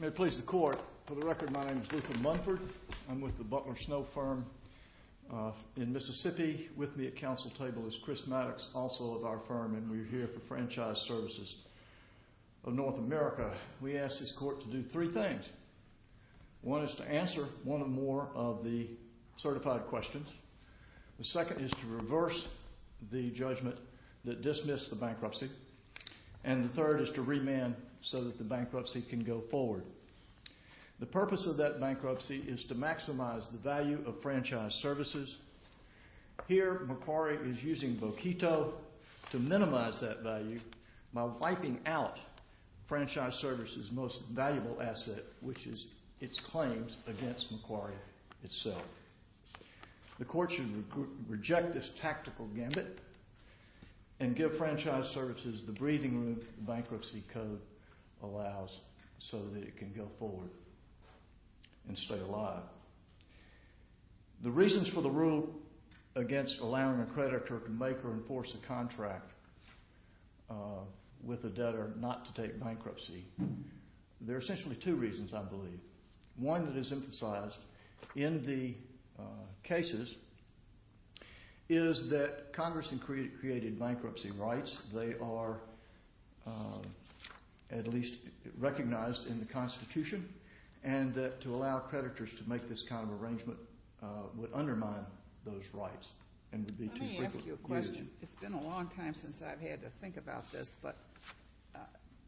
May it please the Court. For the record, my name is Luther Munford. I'm with the Butler Snow firm in Mississippi. With me at council table is Chris Maddox, also of our firm, and we're here for Franchise Svc of North America. We ask this court to do three things. One is to answer one or more of the certified questions. The second is to reverse the judgment that dismissed the bankruptcy. And the third is to remand so that the bankruptcy can go forward. The purpose of that bankruptcy is to maximize the value of Franchise Svc. Here, Macquarie is using Boquito to minimize that value by wiping out Franchise Svc's most valuable asset, which is its claims against Macquarie itself. The court should reject this tactical gambit and give Franchise Svc the breathing room that the bankruptcy code allows so that it can go forward and stay alive. The reasons for the rule against allowing a creditor to make or enforce a contract with a debtor not to take bankruptcy, there are essentially two reasons, I believe. One that is emphasized in the cases is that Congress had created bankruptcy rights. They are at least recognized in the Constitution, and that to allow creditors to make this kind of arrangement would undermine those rights and would be too frequent. It's been a long time since I've had to think about this, but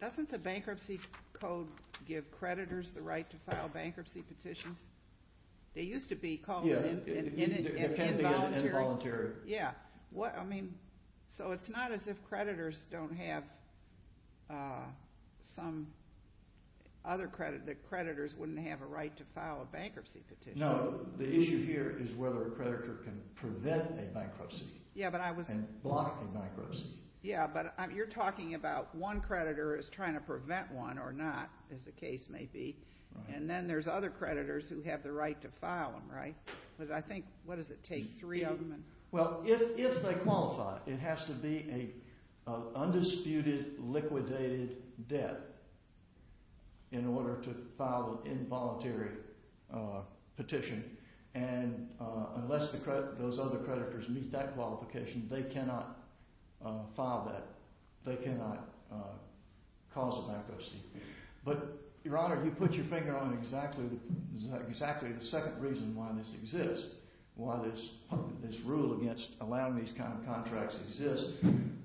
doesn't the bankruptcy code give creditors the right to file bankruptcy petitions? They used to be called involuntary. So it's not as if creditors wouldn't have a right to file a bankruptcy petition. No, the issue here is whether a creditor can prevent a bankruptcy and block a bankruptcy. Yeah, but you're talking about one creditor is trying to prevent one or not, as the case may be, and then there's other creditors who have the right to file them, right? Well, if they qualify, it has to be an undisputed, liquidated debt in order to file an involuntary petition, and unless those other creditors meet that qualification, they cannot file that. They cannot cause a bankruptcy. But, Your Honor, you put your finger on exactly the second reason why this exists, why this rule against allowing these kind of contracts exists,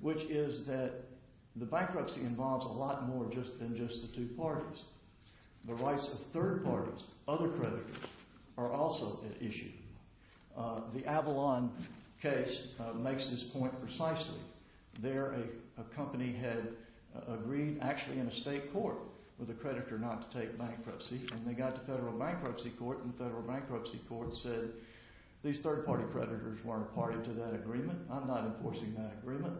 which is that the bankruptcy involves a lot more than just the two parties. The rights of third parties, other creditors, are also at issue. The Avalon case makes this point precisely. There, a company had agreed, actually in a state court, with a creditor not to take bankruptcy, and they got to federal bankruptcy court, and the federal bankruptcy court said, These third-party creditors weren't a party to that agreement. I'm not enforcing that agreement.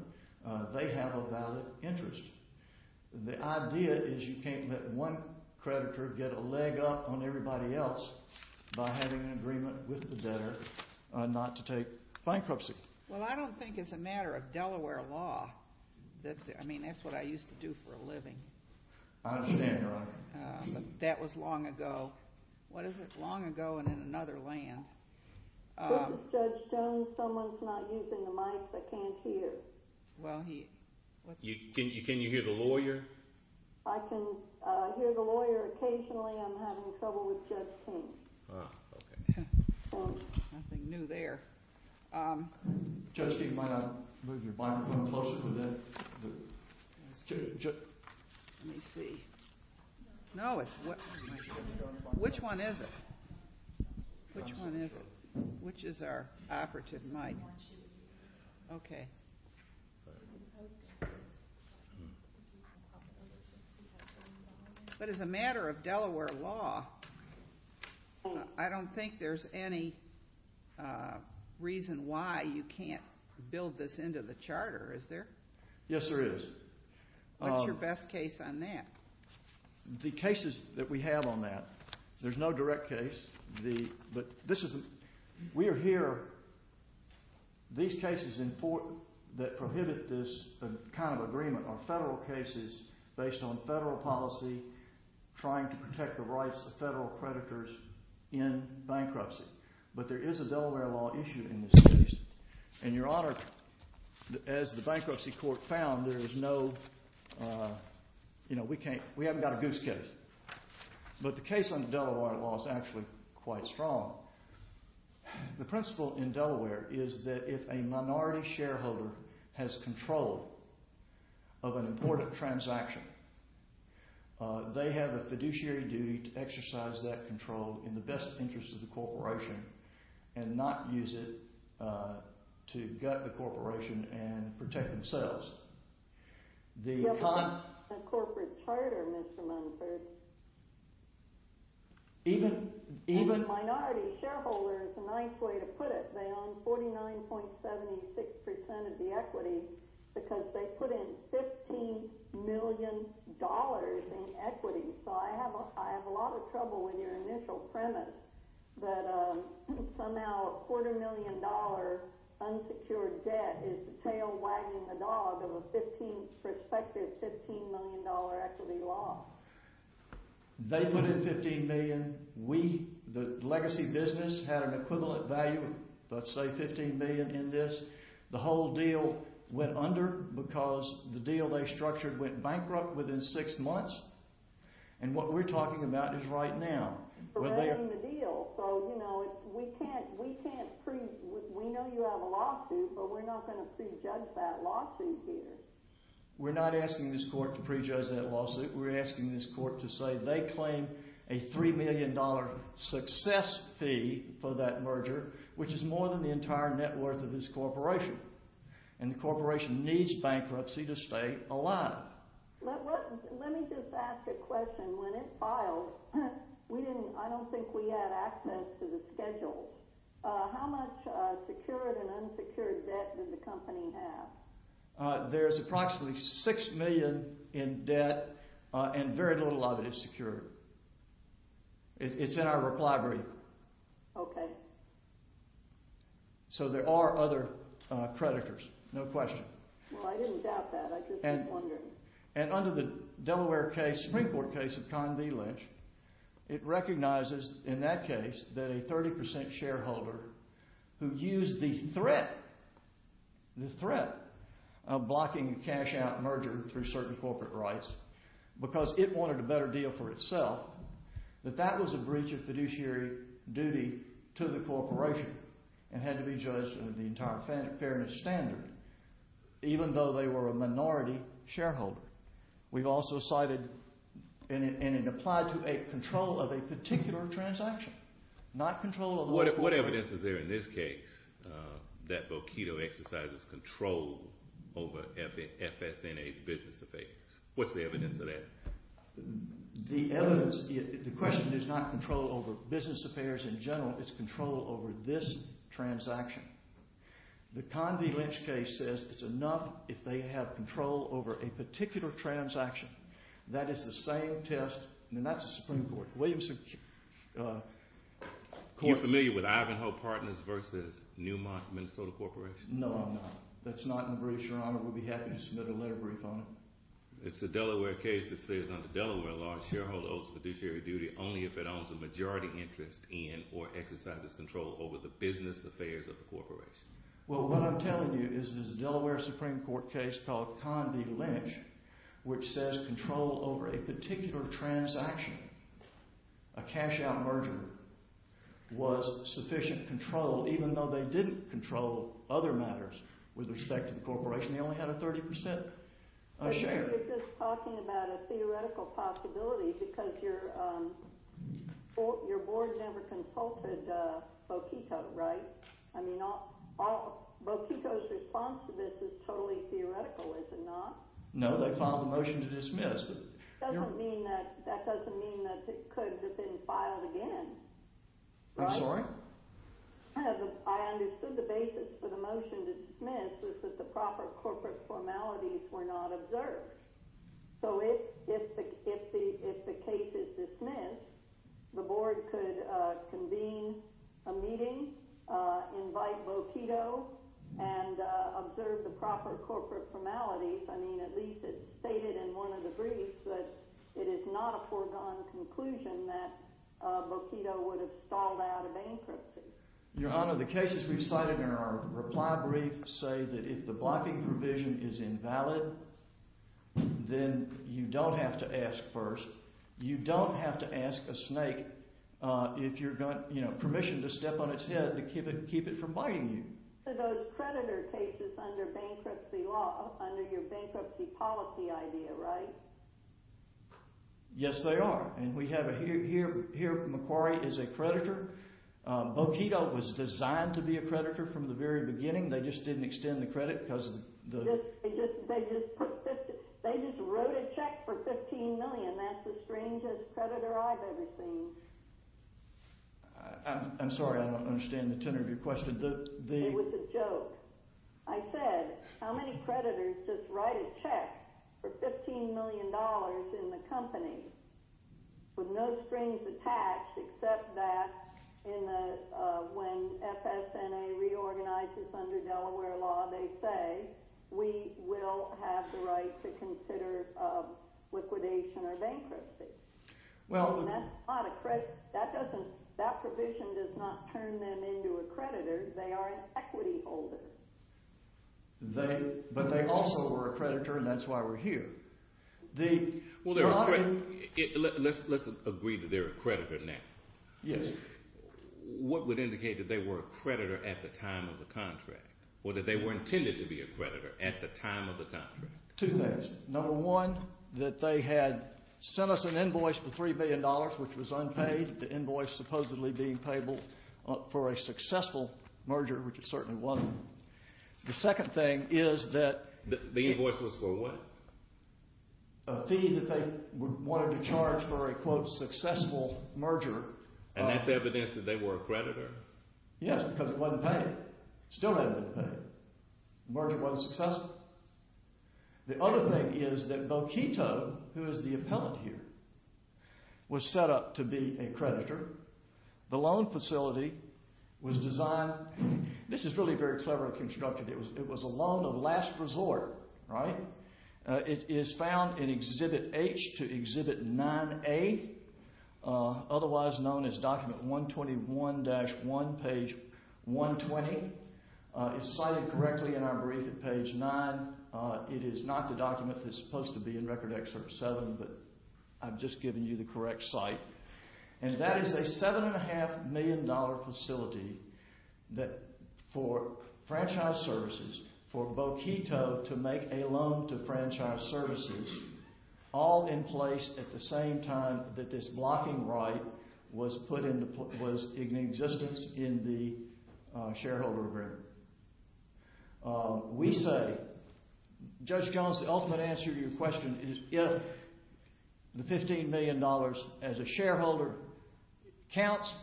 They have a valid interest. The idea is you can't let one creditor get a leg up on everybody else by having an agreement with the debtor not to take bankruptcy. Well, I don't think it's a matter of Delaware law. I mean, that's what I used to do for a living. I understand, Your Honor. That was long ago. What is it? Long ago and in another land. This is Judge Jones. Someone's not using the mic. I can't hear. Can you hear the lawyer? I can hear the lawyer. Occasionally I'm having trouble with Judge King. Nothing new there. Judge King, why not move your mic a little closer to the… Let me see. No, it's… Which one is it? Which one is it? Which is our operative mic? Okay. But as a matter of Delaware law, I don't think there's any reason why you can't build this into the charter, is there? Yes, there is. What's your best case on that? The cases that we have on that, there's no direct case. We are here… These cases that prohibit this kind of agreement are federal cases based on federal policy, trying to protect the rights of federal creditors in bankruptcy. But there is a Delaware law issue in this case. And, Your Honor, as the Bankruptcy Court found, there is no… You know, we haven't got a goose case. But the case on the Delaware law is actually quite strong. The principle in Delaware is that if a minority shareholder has control of an important transaction, they have a fiduciary duty to exercise that control in the best interest of the corporation and not use it to gut the corporation and protect themselves. The corporate charter, Mr. Munford… Even… Even minority shareholders, a nice way to put it, they own 49.76% of the equity because they put in $15 million in equity. So I have a lot of trouble with your initial premise that somehow a quarter million dollar unsecured debt is the tail wagging the dog of a prospective $15 million equity loss. They put in $15 million. We, the legacy business, had an equivalent value of, let's say, $15 million in this. The whole deal went under because the deal they structured went bankrupt within six months. And what we're talking about is right now. So, you know, we know you have a lawsuit, but we're not going to prejudge that lawsuit here. We're not asking this court to prejudge that lawsuit. We're asking this court to say they claim a $3 million success fee for that merger, which is more than the entire net worth of this corporation. And the corporation needs bankruptcy to stay alive. Let me just ask a question. When it filed, I don't think we had access to the schedule. How much secured and unsecured debt does the company have? There's approximately $6 million in debt, and very little of it is secured. It's in our reply brief. Okay. So there are other creditors, no question. Well, I didn't doubt that. I just was wondering. And under the Delaware case, Supreme Court case of Con V. Lynch, it recognizes in that case that a 30% shareholder who used the threat, the threat of blocking a cash-out merger through certain corporate rights because it wanted a better deal for itself, that that was a breach of fiduciary duty to the corporation and had to be judged under the entire fairness standard, even though they were a minority shareholder. We've also cited, and it applied to a control of a particular transaction, not control of the corporation. What evidence is there in this case that Boquito Exercises controlled over FSNA's business affairs? What's the evidence of that? The evidence, the question is not control over business affairs in general. It's control over this transaction. The Con V. Lynch case says it's enough if they have control over a particular transaction. That is the same test, and that's the Supreme Court. Are you familiar with Ivanhoe Partners versus Newmont Minnesota Corporation? No, I'm not. That's not in the brief, Your Honor. We'll be happy to submit a letter brief on it. It's a Delaware case that says under Delaware law, shareholder owes fiduciary duty only if it owns a majority interest in or exercises control over the business affairs of the corporation. Well, what I'm telling you is this Delaware Supreme Court case called Con V. Lynch, which says control over a particular transaction, a cash-out merger, was sufficient control, even though they didn't control other matters with respect to the corporation. They only had a 30% share. But you're just talking about a theoretical possibility because your board never consulted Boquico, right? I mean, Boquico's response to this is totally theoretical, is it not? No, they filed a motion to dismiss. That doesn't mean that it could have been filed again. I'm sorry? I understood the basis for the motion to dismiss was that the proper corporate formalities were not observed. So if the case is dismissed, the board could convene a meeting, invite Boquico, and observe the proper corporate formalities. I mean, at least it's stated in one of the briefs that it is not a foregone conclusion that Boquico would have stalled out of bankruptcy. Your Honor, the cases we cited in our reply brief say that if the blocking provision is invalid, then you don't have to ask first. You don't have to ask a snake permission to step on its head to keep it from biting you. So those creditor cases under bankruptcy law, under your bankruptcy policy idea, right? Yes, they are. Here, Macquarie is a creditor. Boquico was designed to be a creditor from the very beginning. They just didn't extend the credit because of the... They just wrote a check for $15 million. That's the strangest creditor I've ever seen. I'm sorry, I don't understand the tenor of your question. It was a joke. I said, how many creditors just write a check for $15 million in the company with no strings attached except that when FSNA reorganizes under Delaware law, they say we will have the right to consider liquidation or bankruptcy. That provision does not turn them into a creditor. They are an equity holder. But they also were a creditor, and that's why we're here. Well, let's agree that they're a creditor now. Yes. What would indicate that they were a creditor at the time of the contract or that they were intended to be a creditor at the time of the contract? Two things. Number one, that they had sent us an invoice for $3 billion, which was unpaid, the invoice supposedly being payable for a successful merger, which it certainly wasn't. The second thing is that... The invoice was for what? A fee that they wanted to charge for a, quote, successful merger. And that's evidence that they were a creditor. Yes, because it wasn't paid. Still hadn't been paid. The merger wasn't successful. The other thing is that Boquito, who is the appellant here, was set up to be a creditor. The loan facility was designed... This is really very cleverly constructed. It was a loan of last resort, right? It is found in Exhibit H to Exhibit 9A, otherwise known as Document 121-1, page 120. It's cited correctly in our brief at page 9. It is not the document that's supposed to be in Record Excerpt 7, but I've just given you the correct site. And that is a $7.5 million facility for franchise services, for Boquito to make a loan to franchise services, all in place at the same time that this blocking right was in existence in the shareholder agreement. We say, Judge Jones, the ultimate answer to your question is if the $15 million as a shareholder counts,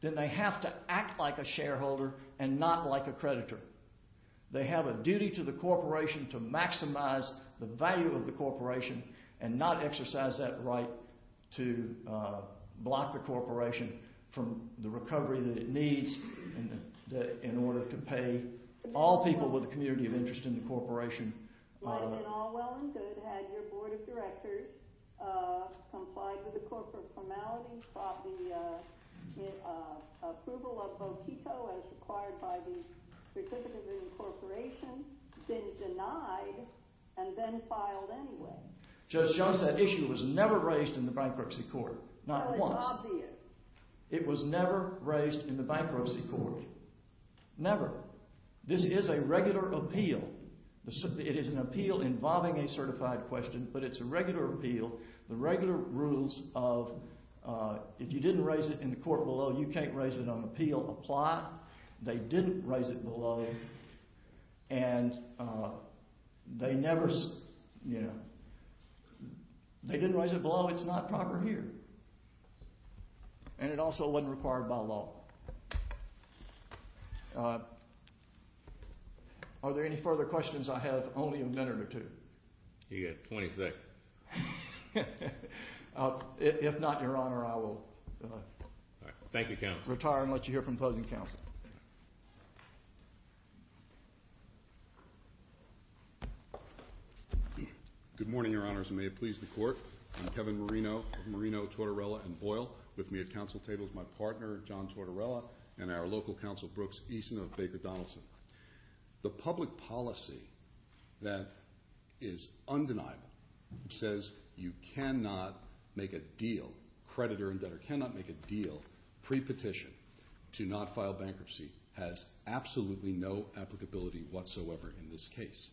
then they have to act like a shareholder and not like a creditor. They have a duty to the corporation to maximize the value of the corporation and not exercise that right to block the corporation from the recovery that it needs in order to pay all people with a community of interest in the corporation. Let them in all well and good. Had your Board of Directors complied with the corporate formalities, brought the approval of Boquito as required by the Certificate of Incorporation, been denied, and then filed anyway. Judge Jones, that issue was never raised in the Bankruptcy Court. Not once. Well, it's obvious. It was never raised in the Bankruptcy Court. Never. However, this is a regular appeal. It is an appeal involving a certified question, but it's a regular appeal. The regular rules of if you didn't raise it in the court below, you can't raise it on appeal apply. They didn't raise it below, and they never, you know, they didn't raise it below. It's not proper here. And it also wasn't required by law. Are there any further questions? I have only a minute or two. You've got 20 seconds. If not, Your Honor, I will retire and let you hear from closing counsel. Good morning, Your Honors, and may it please the Court. I'm Kevin Marino of Marino, Tortorella, and Boyle. With me at counsel table is my partner, John Tortorella, and our local counsel, Brooks Eason of Baker Donaldson. The public policy that is undeniable, which says you cannot make a deal, creditor and debtor cannot make a deal, pre-petition to not file bankruptcy, has absolutely no applicability whatsoever in this case.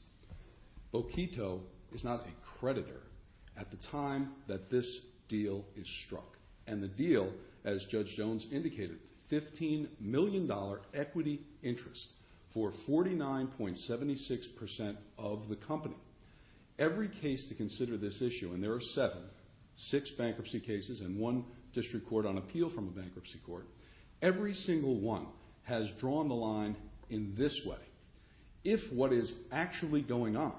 Boquito is not a creditor at the time that this deal is struck. And the deal, as Judge Jones indicated, $15 million equity interest for 49.76% of the company. Every case to consider this issue, and there are seven, six bankruptcy cases and one district court on appeal from a bankruptcy court, every single one has drawn the line in this way. If what is actually going on,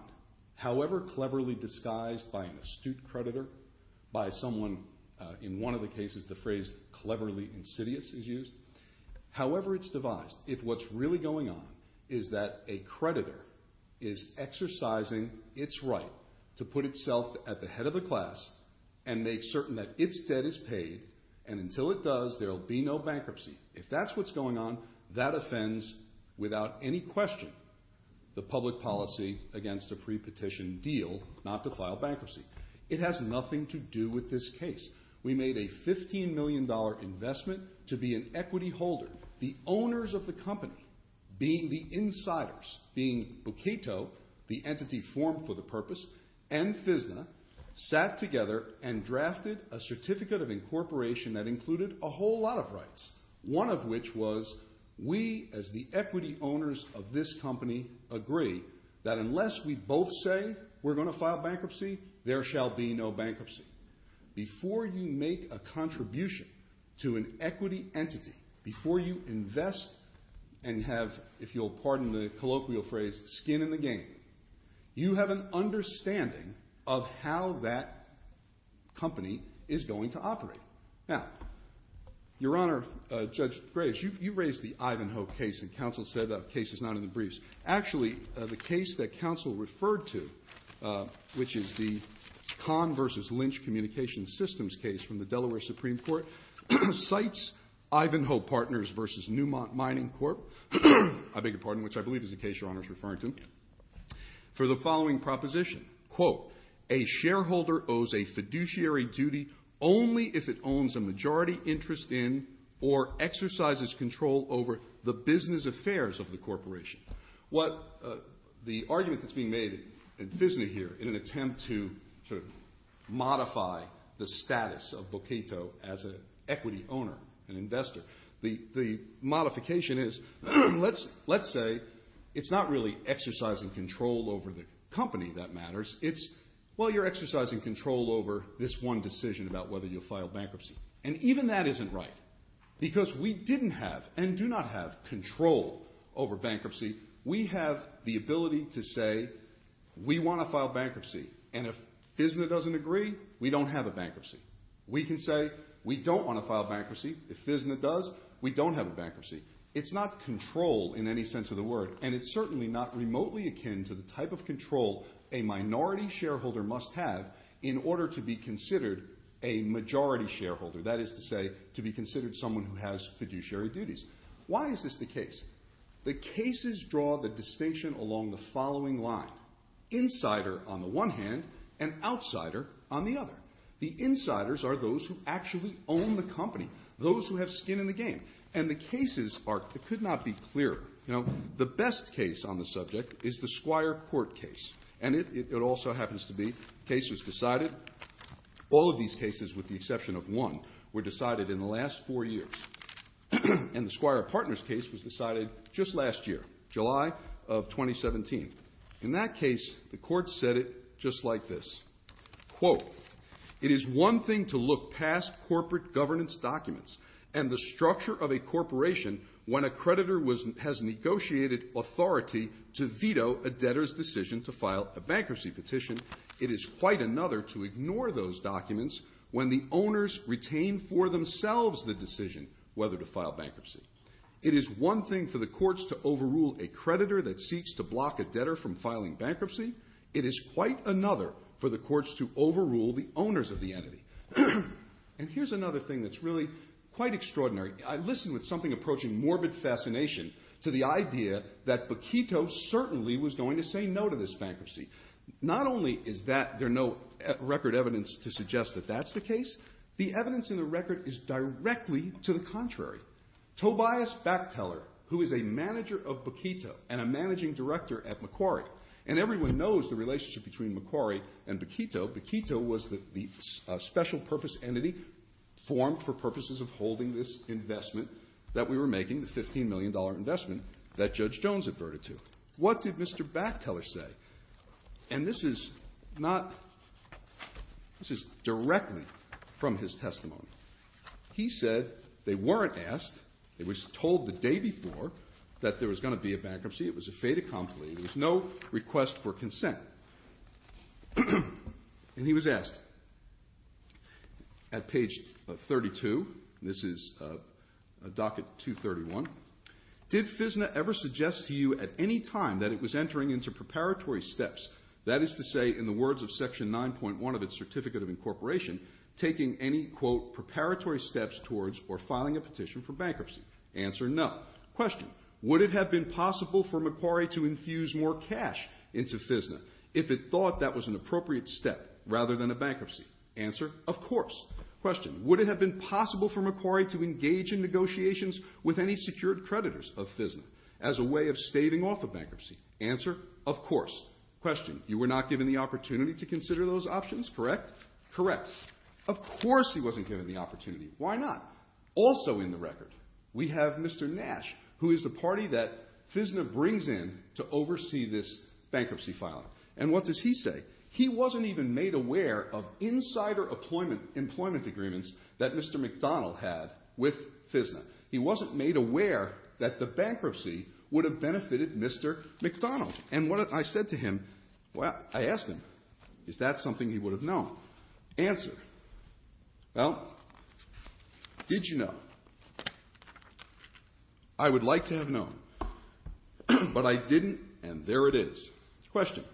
however cleverly disguised by an astute creditor, by someone, in one of the cases, the phrase cleverly insidious is used, however it's devised, if what's really going on is that a creditor is exercising its right to put itself at the head of the class and make certain that its debt is paid and until it does, there will be no bankruptcy, if that's what's going on, that offends, without any question, the public policy against a pre-petition deal not to file bankruptcy. It has nothing to do with this case. We made a $15 million investment to be an equity holder. The owners of the company, being the insiders, being Boquito, the entity formed for the purpose, and FSNA, sat together and drafted a certificate of incorporation that included a whole lot of rights, one of which was we, as the equity owners of this company, agree that unless we both say we're going to file bankruptcy, there shall be no bankruptcy. Before you make a contribution to an equity entity, before you invest and have, if you'll pardon the colloquial phrase, skin in the game, you have an understanding of how that company is going to operate. Now, Your Honor, Judge Graves, you raised the Ivanhoe case, and counsel said that case is not in the briefs. Actually, the case that counsel referred to, which is the Kahn v. Lynch Communications Systems case from the Delaware Supreme Court, cites Ivanhoe Partners v. Newmont Mining Corp. I beg your pardon, which I believe is the case Your Honor is referring to, for the following proposition. A shareholder owes a fiduciary duty only if it owns a majority interest in or exercises control over the business affairs of the corporation. The argument that's being made in FSNA here in an attempt to sort of modify the status of Boketo as an equity owner, an investor, the modification is let's say it's not really exercising control over the company that matters. It's, well, you're exercising control over this one decision about whether you'll file bankruptcy. And even that isn't right, because we didn't have and do not have control over bankruptcy. We have the ability to say we want to file bankruptcy, and if FSNA doesn't agree, we don't have a bankruptcy. We can say we don't want to file bankruptcy. If FSNA does, we don't have a bankruptcy. It's not control in any sense of the word, and it's certainly not remotely akin to the type of control a minority shareholder must have in order to be considered a majority shareholder, that is to say to be considered someone who has fiduciary duties. Why is this the case? The cases draw the distinction along the following line, insider on the one hand and outsider on the other. The insiders are those who actually own the company, those who have skin in the game. And the cases are, it could not be clearer, the best case on the subject is the Squire Court case, and it also happens to be a case that was decided. All of these cases, with the exception of one, were decided in the last four years. And the Squire Partners case was decided just last year, July of 2017. In that case, the court said it just like this. Quote, It is one thing to look past corporate governance documents and the structure of a corporation when a creditor has negotiated authority to veto a debtor's decision to file a bankruptcy petition. It is quite another to ignore those documents when the owners retain for themselves the decision whether to file bankruptcy. It is one thing for the courts to overrule a creditor that seeks to block a debtor from filing bankruptcy. It is quite another for the courts to overrule the owners of the entity. And here's another thing that's really quite extraordinary. I listened with something approaching morbid fascination to the idea that Bakito certainly was going to say no to this bankruptcy. Not only is there no record evidence to suggest that that's the case, the evidence in the record is directly to the contrary. Tobias Bachteller, who is a manager of Bakito and a managing director at Macquarie, and everyone knows the relationship between Macquarie and Bakito. Bakito was the special-purpose entity formed for purposes of holding this investment that we were making, the $15 million investment that Judge Jones adverted to. What did Mr. Bachteller say? And this is not... This is directly from his testimony. He said they weren't asked. It was told the day before that there was going to be a bankruptcy. It was a fait accompli. There was no request for consent. And he was asked. At page 32. This is docket 231. Did FISNA ever suggest to you at any time that it was entering into preparatory steps, that is to say, in the words of section 9.1 of its Certificate of Incorporation, taking any, quote, preparatory steps towards or filing a petition for bankruptcy? Answer, no. Question, would it have been possible for Macquarie to infuse more cash into FISNA if it thought that was an appropriate step rather than a bankruptcy? Answer, of course. Question, would it have been possible for Macquarie to engage in negotiations with any secured creditors of FISNA as a way of staving off a bankruptcy? Answer, of course. Question, you were not given the opportunity to consider those options, correct? Correct. Of course he wasn't given the opportunity. Why not? Also in the record, we have Mr. Nash, who is the party that FISNA brings in to oversee this bankruptcy filing. And what does he say? He wasn't even made aware of insider employment agreements that Mr. McDonald had with FISNA. He wasn't made aware that the bankruptcy would have benefited Mr. McDonald. And what I said to him, well, I asked him, is that something he would have known? Answer, well, did you know? I would like to have known. But I didn't, and there it is. Question,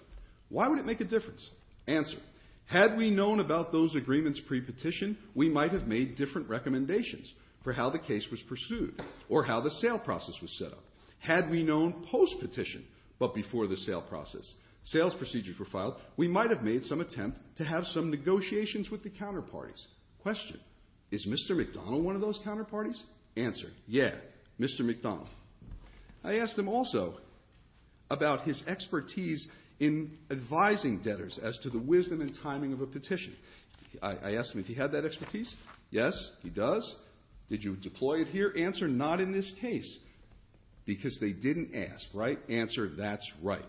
why would it make a difference? Answer, had we known about those agreements pre-petition, we might have made different recommendations for how the case was pursued or how the sale process was set up. Had we known post-petition, but before the sale process, sales procedures were filed, we might have made some attempt to have some negotiations with the counterparties. Question, is Mr. McDonald one of those counterparties? Answer, yeah, Mr. McDonald. I asked him also about his expertise in advising debtors as to the wisdom and timing of a petition. I asked him if he had that expertise. Yes, he does. Did you deploy it here? Answer, not in this case, because they didn't ask, right? Answer, that's right.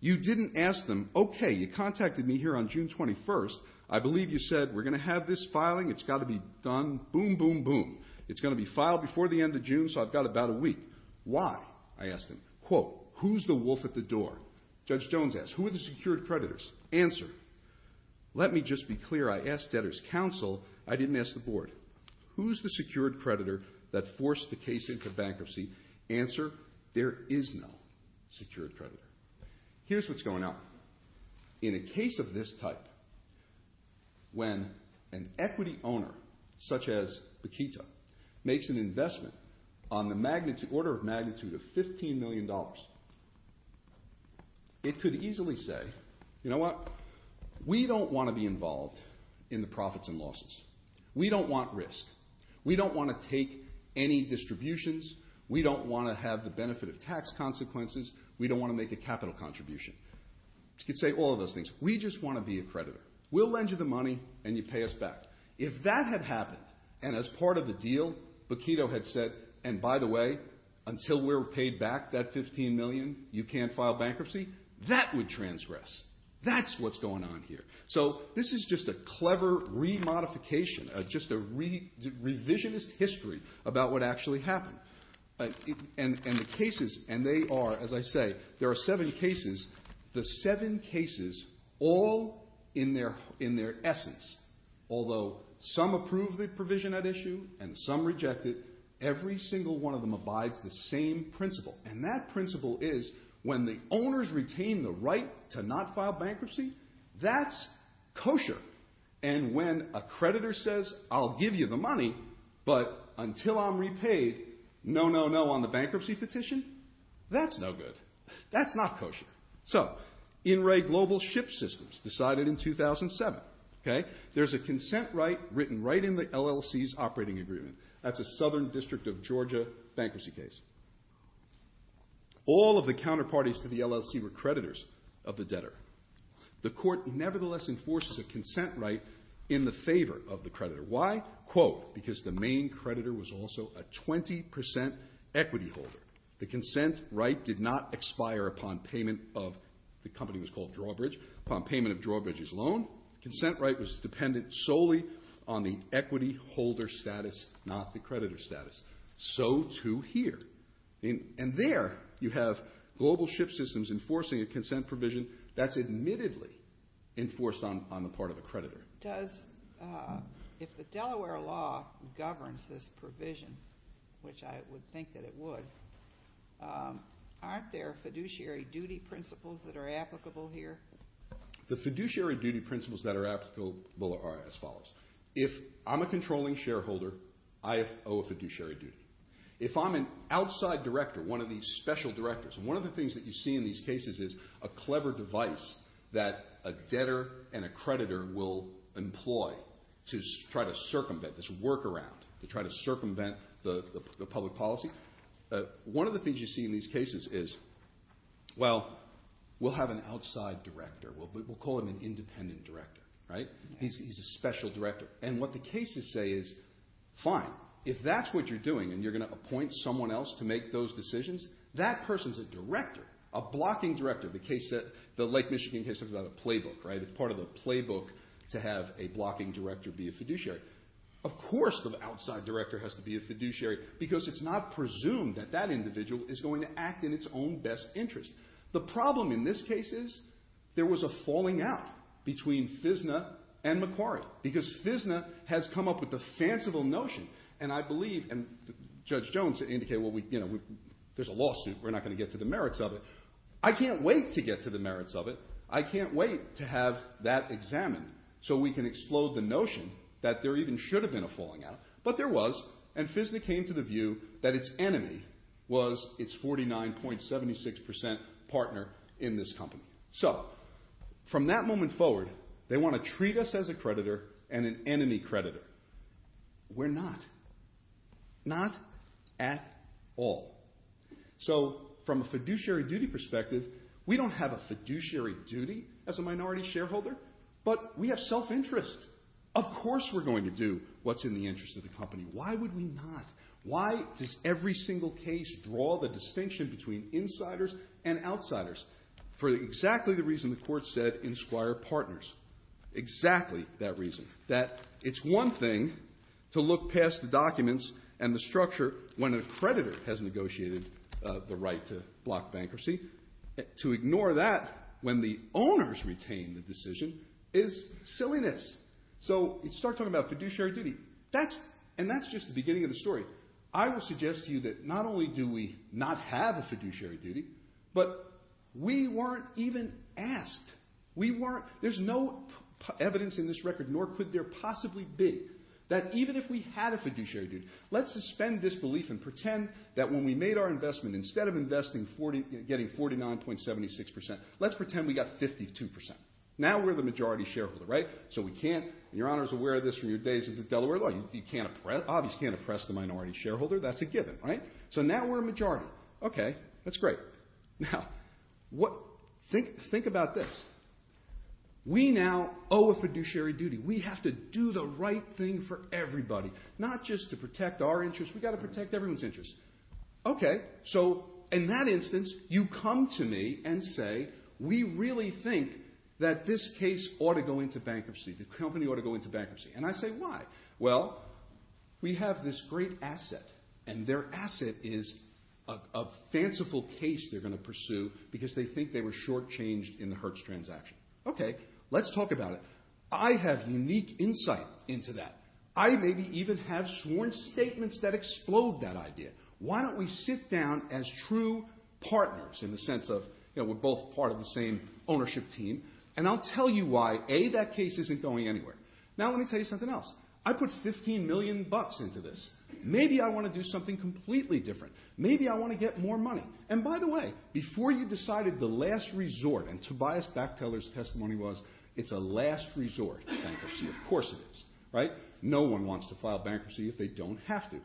You didn't ask them, okay, you contacted me here on June 21st, I believe you said we're going to have this filing, it's got to be done, boom, boom, boom. It's going to be filed before the end of June, so I've got about a week. Why? I asked him. Quote, who's the wolf at the door? Judge Jones asked, who are the secured creditors? Answer, let me just be clear, I asked debtors' counsel, I didn't ask the board. Who's the secured creditor that forced the case into bankruptcy? Answer, there is no secured creditor. Here's what's going on. In a case of this type, when an equity owner such as Bakita makes an investment on the order of magnitude of $15 million, it could easily say, you know what, we don't want to be involved in the profits and losses. We don't want risk. We don't want to take any distributions. We don't want to have the benefit of tax consequences. We don't want to make a capital contribution. It could say all of those things. We just want to be a creditor. We'll lend you the money, and you pay us back. If that had happened, and as part of the deal, Bakita had said, and by the way, until we're paid back that $15 million, you can't file bankruptcy, that would transgress. That's what's going on here. So this is just a clever re-modification, just a revisionist history about what actually happened. And the cases, and they are, as I say, there are seven cases. The seven cases, all in their essence, although some approve the provision at issue and some reject it, every single one of them abides the same principle. And that principle is when the owners retain the right to not file bankruptcy, that's kosher. But until I'm repaid, no, no, no on the bankruptcy petition? That's no good. That's not kosher. So, In Re Global Ship Systems decided in 2007, there's a consent right written right in the LLC's operating agreement. That's a Southern District of Georgia bankruptcy case. All of the counterparties to the LLC were creditors of the debtor. The court nevertheless enforces a consent right in the favor of the creditor. Why? Quote, because the main creditor was also a 20% equity holder. The consent right did not expire upon payment of, the company was called Drawbridge, upon payment of Drawbridge's loan. Consent right was dependent solely on the equity holder status, not the creditor status. So too here. And there you have Global Ship Systems enforcing a consent provision that's admittedly enforced on the part of a creditor. Does, if the Delaware law governs this provision, which I would think that it would, aren't there fiduciary duty principles that are applicable here? The fiduciary duty principles that are applicable are as follows. If I'm a controlling shareholder, I owe a fiduciary duty. If I'm an outside director, one of these special directors, one of the things that you see in these cases is a clever device that a debtor and a creditor will employ to try to circumvent this workaround, to try to circumvent the public policy. One of the things you see in these cases is, well, we'll have an outside director. We'll call him an independent director, right? He's a special director. And what the cases say is, fine, if that's what you're doing and you're going to appoint someone else to make those decisions, that person's a director, a blocking director. The Lake Michigan case talks about a playbook, right? It's part of the playbook to have a blocking director be a fiduciary. Of course the outside director has to be a fiduciary because it's not presumed that that individual is going to act in its own best interest. The problem in this case is there was a falling out between FISNA and Macquarie because FISNA has come up with the fanciful notion, and I believe, and Judge Jones indicated there's a lawsuit. We're not going to get to the merits of it. I can't wait to get to the merits of it. I can't wait to have that examined so we can explode the notion that there even should have been a falling out, but there was, and FISNA came to the view that its enemy was its 49.76% partner in this company. So from that moment forward, they want to treat us as a creditor and an enemy creditor. We're not. Not at all. So from a fiduciary duty perspective, we don't have a fiduciary duty as a minority shareholder, but we have self-interest. Of course we're going to do what's in the interest of the company. Why would we not? Why does every single case draw the distinction between insiders and outsiders? For exactly the reason the Court said in Squire Partners, exactly that reason, that it's one thing to look past the documents and the structure when a creditor has negotiated the right to block bankruptcy. To ignore that when the owners retain the decision is silliness. So you start talking about fiduciary duty, and that's just the beginning of the story. I would suggest to you that not only do we not have a fiduciary duty, but we weren't even asked. There's no evidence in this record, nor could there possibly be, that even if we had a fiduciary duty, let's suspend disbelief and pretend that when we made our investment, instead of getting 49.76%, let's pretend we got 52%. Now we're the majority shareholder, right? So we can't, and Your Honor is aware of this from your days in Delaware law, you obviously can't oppress the minority shareholder. That's a given, right? So now we're a majority. Okay, that's great. Now, think about this. We now owe a fiduciary duty. We have to do the right thing for everybody, not just to protect our interests. We've got to protect everyone's interests. Okay, so in that instance, you come to me and say, we really think that this case ought to go into bankruptcy. The company ought to go into bankruptcy. And I say, why? Well, we have this great asset, and their asset is a fanciful case they're going to pursue because they think they were shortchanged in the Hertz transaction. Okay, let's talk about it. I have unique insight into that. I maybe even have sworn statements that explode that idea. Why don't we sit down as true partners, in the sense of we're both part of the same ownership team, and I'll tell you why, A, that case isn't going anywhere. Now let me tell you something else. I put $15 million into this. Maybe I want to do something completely different. Maybe I want to get more money. And by the way, before you decided the last resort, and Tobias Bachteller's testimony was, it's a last resort in bankruptcy. Of course it is, right? No one wants to file bankruptcy if they don't have to.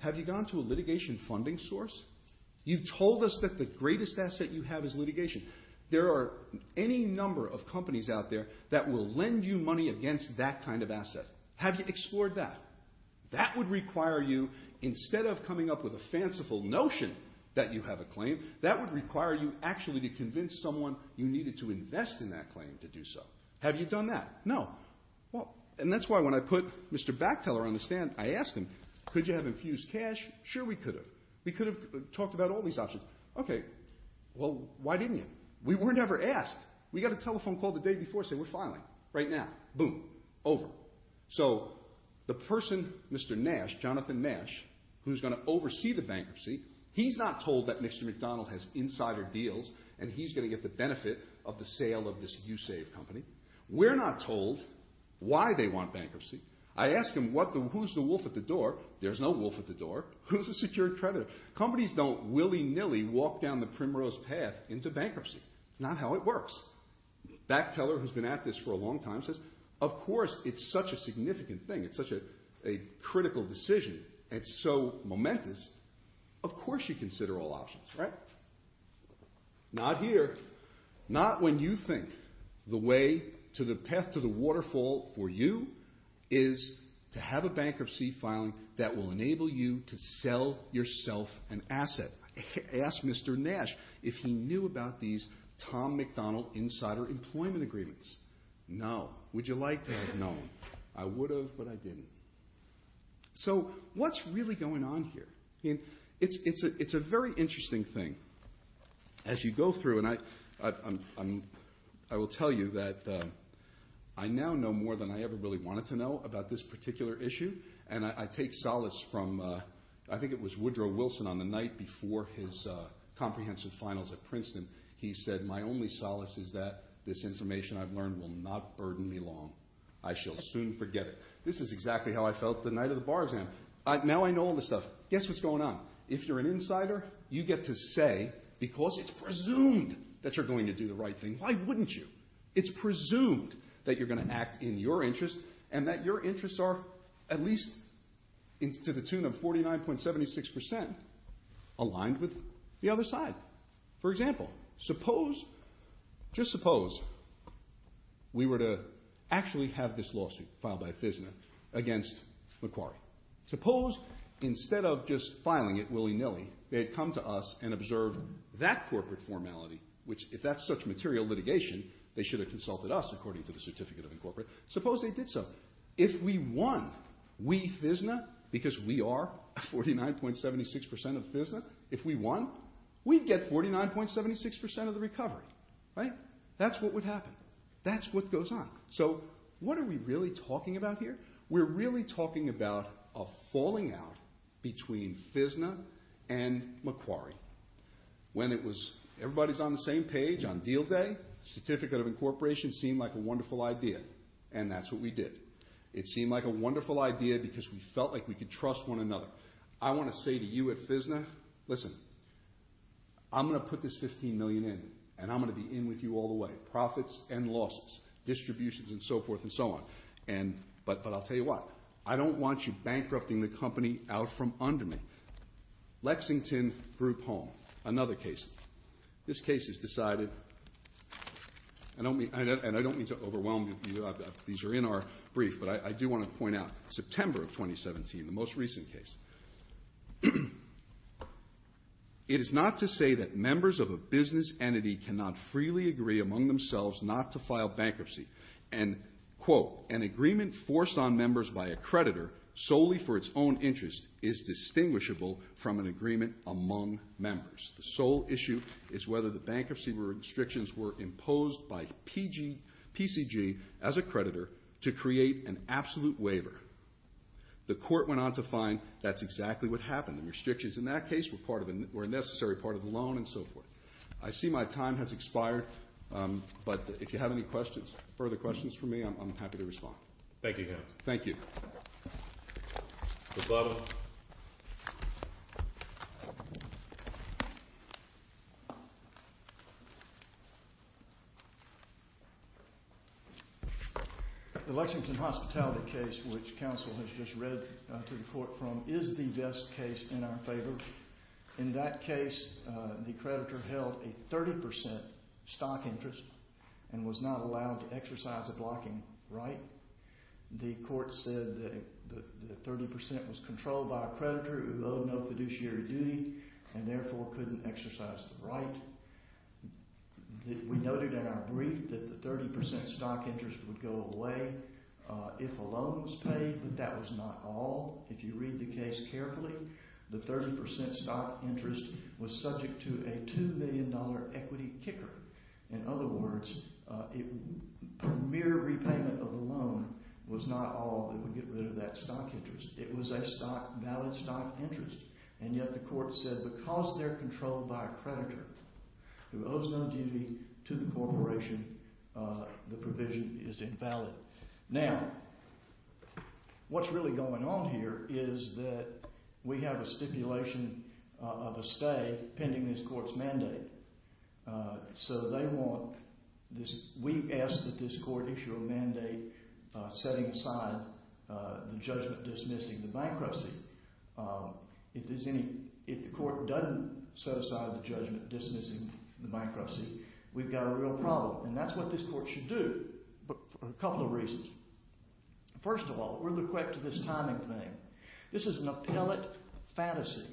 Have you gone to a litigation funding source? You've told us that the greatest asset you have is litigation. There are any number of companies out there that will lend you money against that kind of asset. Have you explored that? That would require you, instead of coming up with a fanciful notion that you have a claim, that would require you actually to convince someone you needed to invest in that claim to do so. Have you done that? No. And that's why when I put Mr. Bachteller on the stand, I asked him, could you have infused cash? Sure we could have. We could have talked about all these options. Okay, well, why didn't you? We were never asked. We got a telephone call the day before saying, we're filing right now. Boom. Over. So the person, Mr. Nash, Jonathan Nash, who's going to oversee the bankruptcy, he's not told that Mr. McDonald has insider deals and he's going to get the benefit of the sale of this YouSave company. We're not told why they want bankruptcy. I ask him, who's the wolf at the door? There's no wolf at the door. Who's the secured creditor? Companies don't willy-nilly walk down the primrose path into bankruptcy. That's not how it works. Bachteller, who's been at this for a long time, says, of course it's such a significant thing, it's such a critical decision, it's so momentous, of course you consider all options, right? Not here. Not when you think the way to the path to the waterfall for you is to have a bankruptcy filing that will enable you to sell yourself an asset. Ask Mr. Nash if he knew about these Tom McDonald insider employment agreements. No. Would you like to have known? I would have, but I didn't. So what's really going on here? It's a very interesting thing. As you go through, and I will tell you that I now know more than I ever really wanted to know about this particular issue, and I take solace from, I think it was Woodrow Wilson on the night before his comprehensive finals at Princeton, he said, my only solace is that this information I've learned will not burden me long. I shall soon forget it. This is exactly how I felt the night of the bar exam. Now I know all this stuff. Guess what's going on? If you're an insider, you get to say, because it's presumed that you're going to do the right thing, why wouldn't you? It's presumed that you're going to act in your interest and that your interests are at least to the tune of 49.76% aligned with the other side. For example, just suppose we were to actually have this lawsuit filed by FISNA against Macquarie. Suppose instead of just filing it willy-nilly, they had come to us and observed that corporate formality, which if that's such material litigation, they should have consulted us according to the Certificate of Incorporate. Suppose they did so. If we won, we FISNA, because we are 49.76% of FISNA, if we won, we'd get 49.76% of the recovery. That's what would happen. That's what goes on. So what are we really talking about here? We're really talking about a falling out between FISNA and Macquarie. When it was everybody's on the same page on deal day, Certificate of Incorporation seemed like a wonderful idea, and that's what we did. It seemed like a wonderful idea because we felt like we could trust one another. I want to say to you at FISNA, listen, I'm going to put this $15 million in, and I'm going to be in with you all the way, profits and losses, distributions and so forth and so on, but I'll tell you what, I don't want you bankrupting the company out from under me. Lexington Group Home, another case. This case has decided, and I don't mean to overwhelm you, these are in our brief, but I do want to point out, September of 2017, the most recent case. It is not to say that members of a business entity cannot freely agree among themselves not to file bankruptcy, and, quote, an agreement forced on members by a creditor solely for its own interest is distinguishable from an agreement among members. The sole issue is whether the bankruptcy restrictions were imposed by PCG as a The court went on to find that's exactly what happened. The restrictions in that case were a necessary part of the loan and so forth. I see my time has expired, but if you have any questions, further questions for me, I'm happy to respond. Thank you, counsel. Thank you. Good luck. The Lexington Hospitality case, which counsel has just read to the court from, is the best case in our favor. In that case, the creditor held a 30% stock interest and was not allowed to exercise a blocking right. The court said that the 30% was controlled by a creditor who owed no fiduciary duty and therefore couldn't exercise the right. We noted in our brief that the 30% stock interest would go away if a loan was paid, but that was not all. If you read the case carefully, the 30% stock interest was subject to a $2 million equity kicker. In other words, mere repayment of the loan was not all that would get rid of that stock interest. It was a valid stock interest, and yet the court said because they're controlled by a creditor who owes no duty to the corporation, the provision is invalid. Now, what's really going on here is that we have a stipulation of a stay pending this court's mandate. So they want this. We asked that this court issue a mandate setting aside the judgment dismissing the bankruptcy. If the court doesn't set aside the judgment dismissing the bankruptcy, we've got a real problem. And that's what this court should do for a couple of reasons. First of all, we're liquefied to this timing thing. This is an appellate fantasy.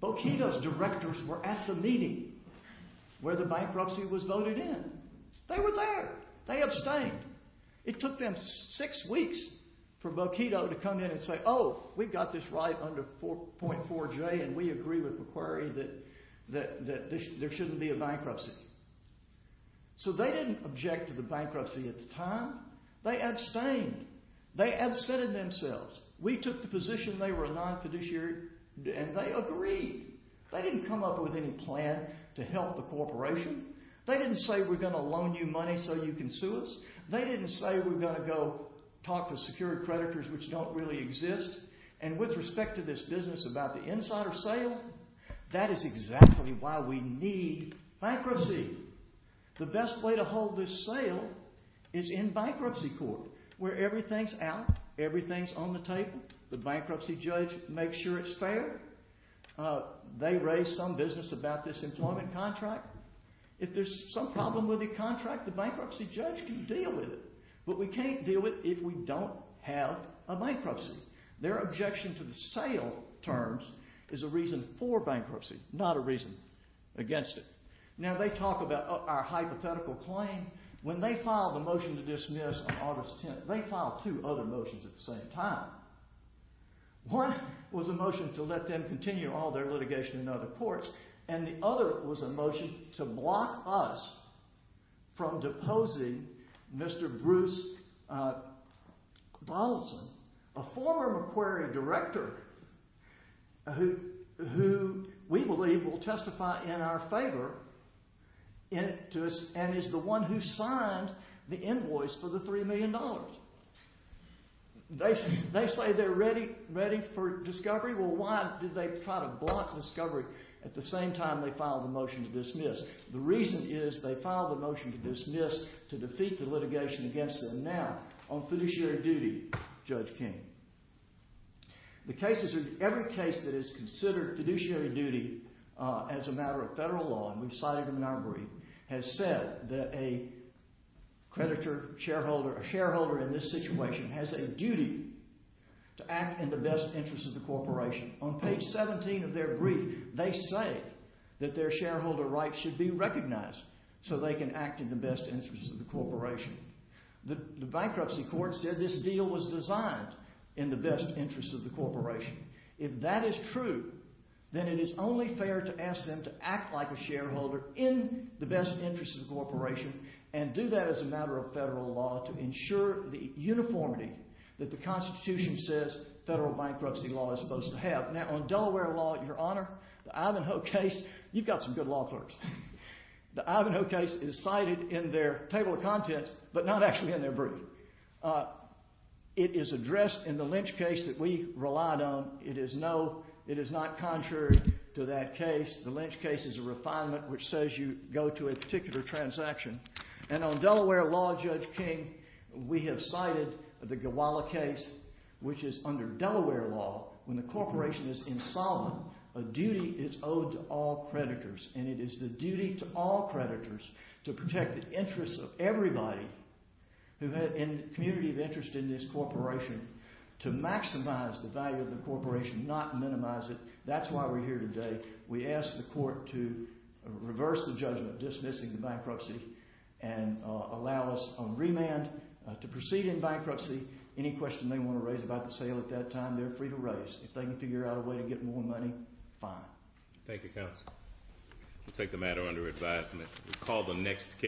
Boquito's directors were at the meeting where the bankruptcy was voted in. They were there. They abstained. It took them six weeks for Boquito to come in and say, oh, we got this right under 4.4J and we agree with Macquarie that there shouldn't be a bankruptcy. So they didn't object to the bankruptcy at the time. They abstained. They absented themselves. We took the position they were a non-fiduciary and they agreed. They didn't come up with any plan to help the corporation. They didn't say we're going to loan you money so you can sue us. They didn't say we're going to go talk to security creditors, which don't really exist. And with respect to this business about the insider sale, that is exactly why we need bankruptcy. The best way to hold this sale is in bankruptcy court where everything's out, everything's on the table. The bankruptcy judge makes sure it's fair. They raise some business about this employment contract. If there's some problem with the contract, the bankruptcy judge can deal with it. But we can't deal with it if we don't have a bankruptcy. Their objection to the sale terms is a reason for bankruptcy, not a reason against it. Now, they talk about our hypothetical claim. When they filed the motion to dismiss on August 10th, they filed two other motions at the same time. One was a motion to let them continue all their litigation in other courts, and the other was a motion to block us from deposing Mr. Bruce Donaldson, a former Macquarie director who we believe will testify in our favor and is the one who signed the invoice for the $3 million. They say they're ready for discovery. Well, why did they try to block discovery at the same time they filed the motion to dismiss? The reason is they filed the motion to dismiss to defeat the litigation against them now on fiduciary duty, Judge King. The cases are every case that is considered fiduciary duty as a matter of federal law, and we've cited them in our brief, has said that a creditor, shareholder, a shareholder in this situation has a duty to act in the best interest of the corporation. On page 17 of their brief, they say that their shareholder rights should be recognized so they can act in the best interest of the corporation. The bankruptcy court said this deal was designed in the best interest of the corporation. If that is true, then it is only fair to ask them to act like a shareholder in the best interest of the corporation and do that as a matter of federal law to ensure the uniformity that the Constitution says federal bankruptcy law is supposed to have. Now, on Delaware law, Your Honor, the Ivanhoe case, you've got some good law clerks. The Ivanhoe case is cited in their table of contents, but not actually in their brief. It is addressed in the Lynch case that we relied on. It is not contrary to that case. The Lynch case is a refinement which says you go to a particular transaction. And on Delaware law, Judge King, we have cited the Gawala case, which is under Delaware law. When the corporation is insolvent, a duty is owed to all creditors, and it is the duty to all creditors to protect the interests of everybody in the community of interest in this corporation to maximize the value of the corporation, not minimize it. That's why we're here today. We ask the court to reverse the judgment dismissing the bankruptcy and allow us on remand to proceed in bankruptcy. Any question they want to raise about the sale at that time, they're free to raise. If they can figure out a way to get more money, fine. Thank you, counsel. We'll take the matter under advisement. We'll call the next case.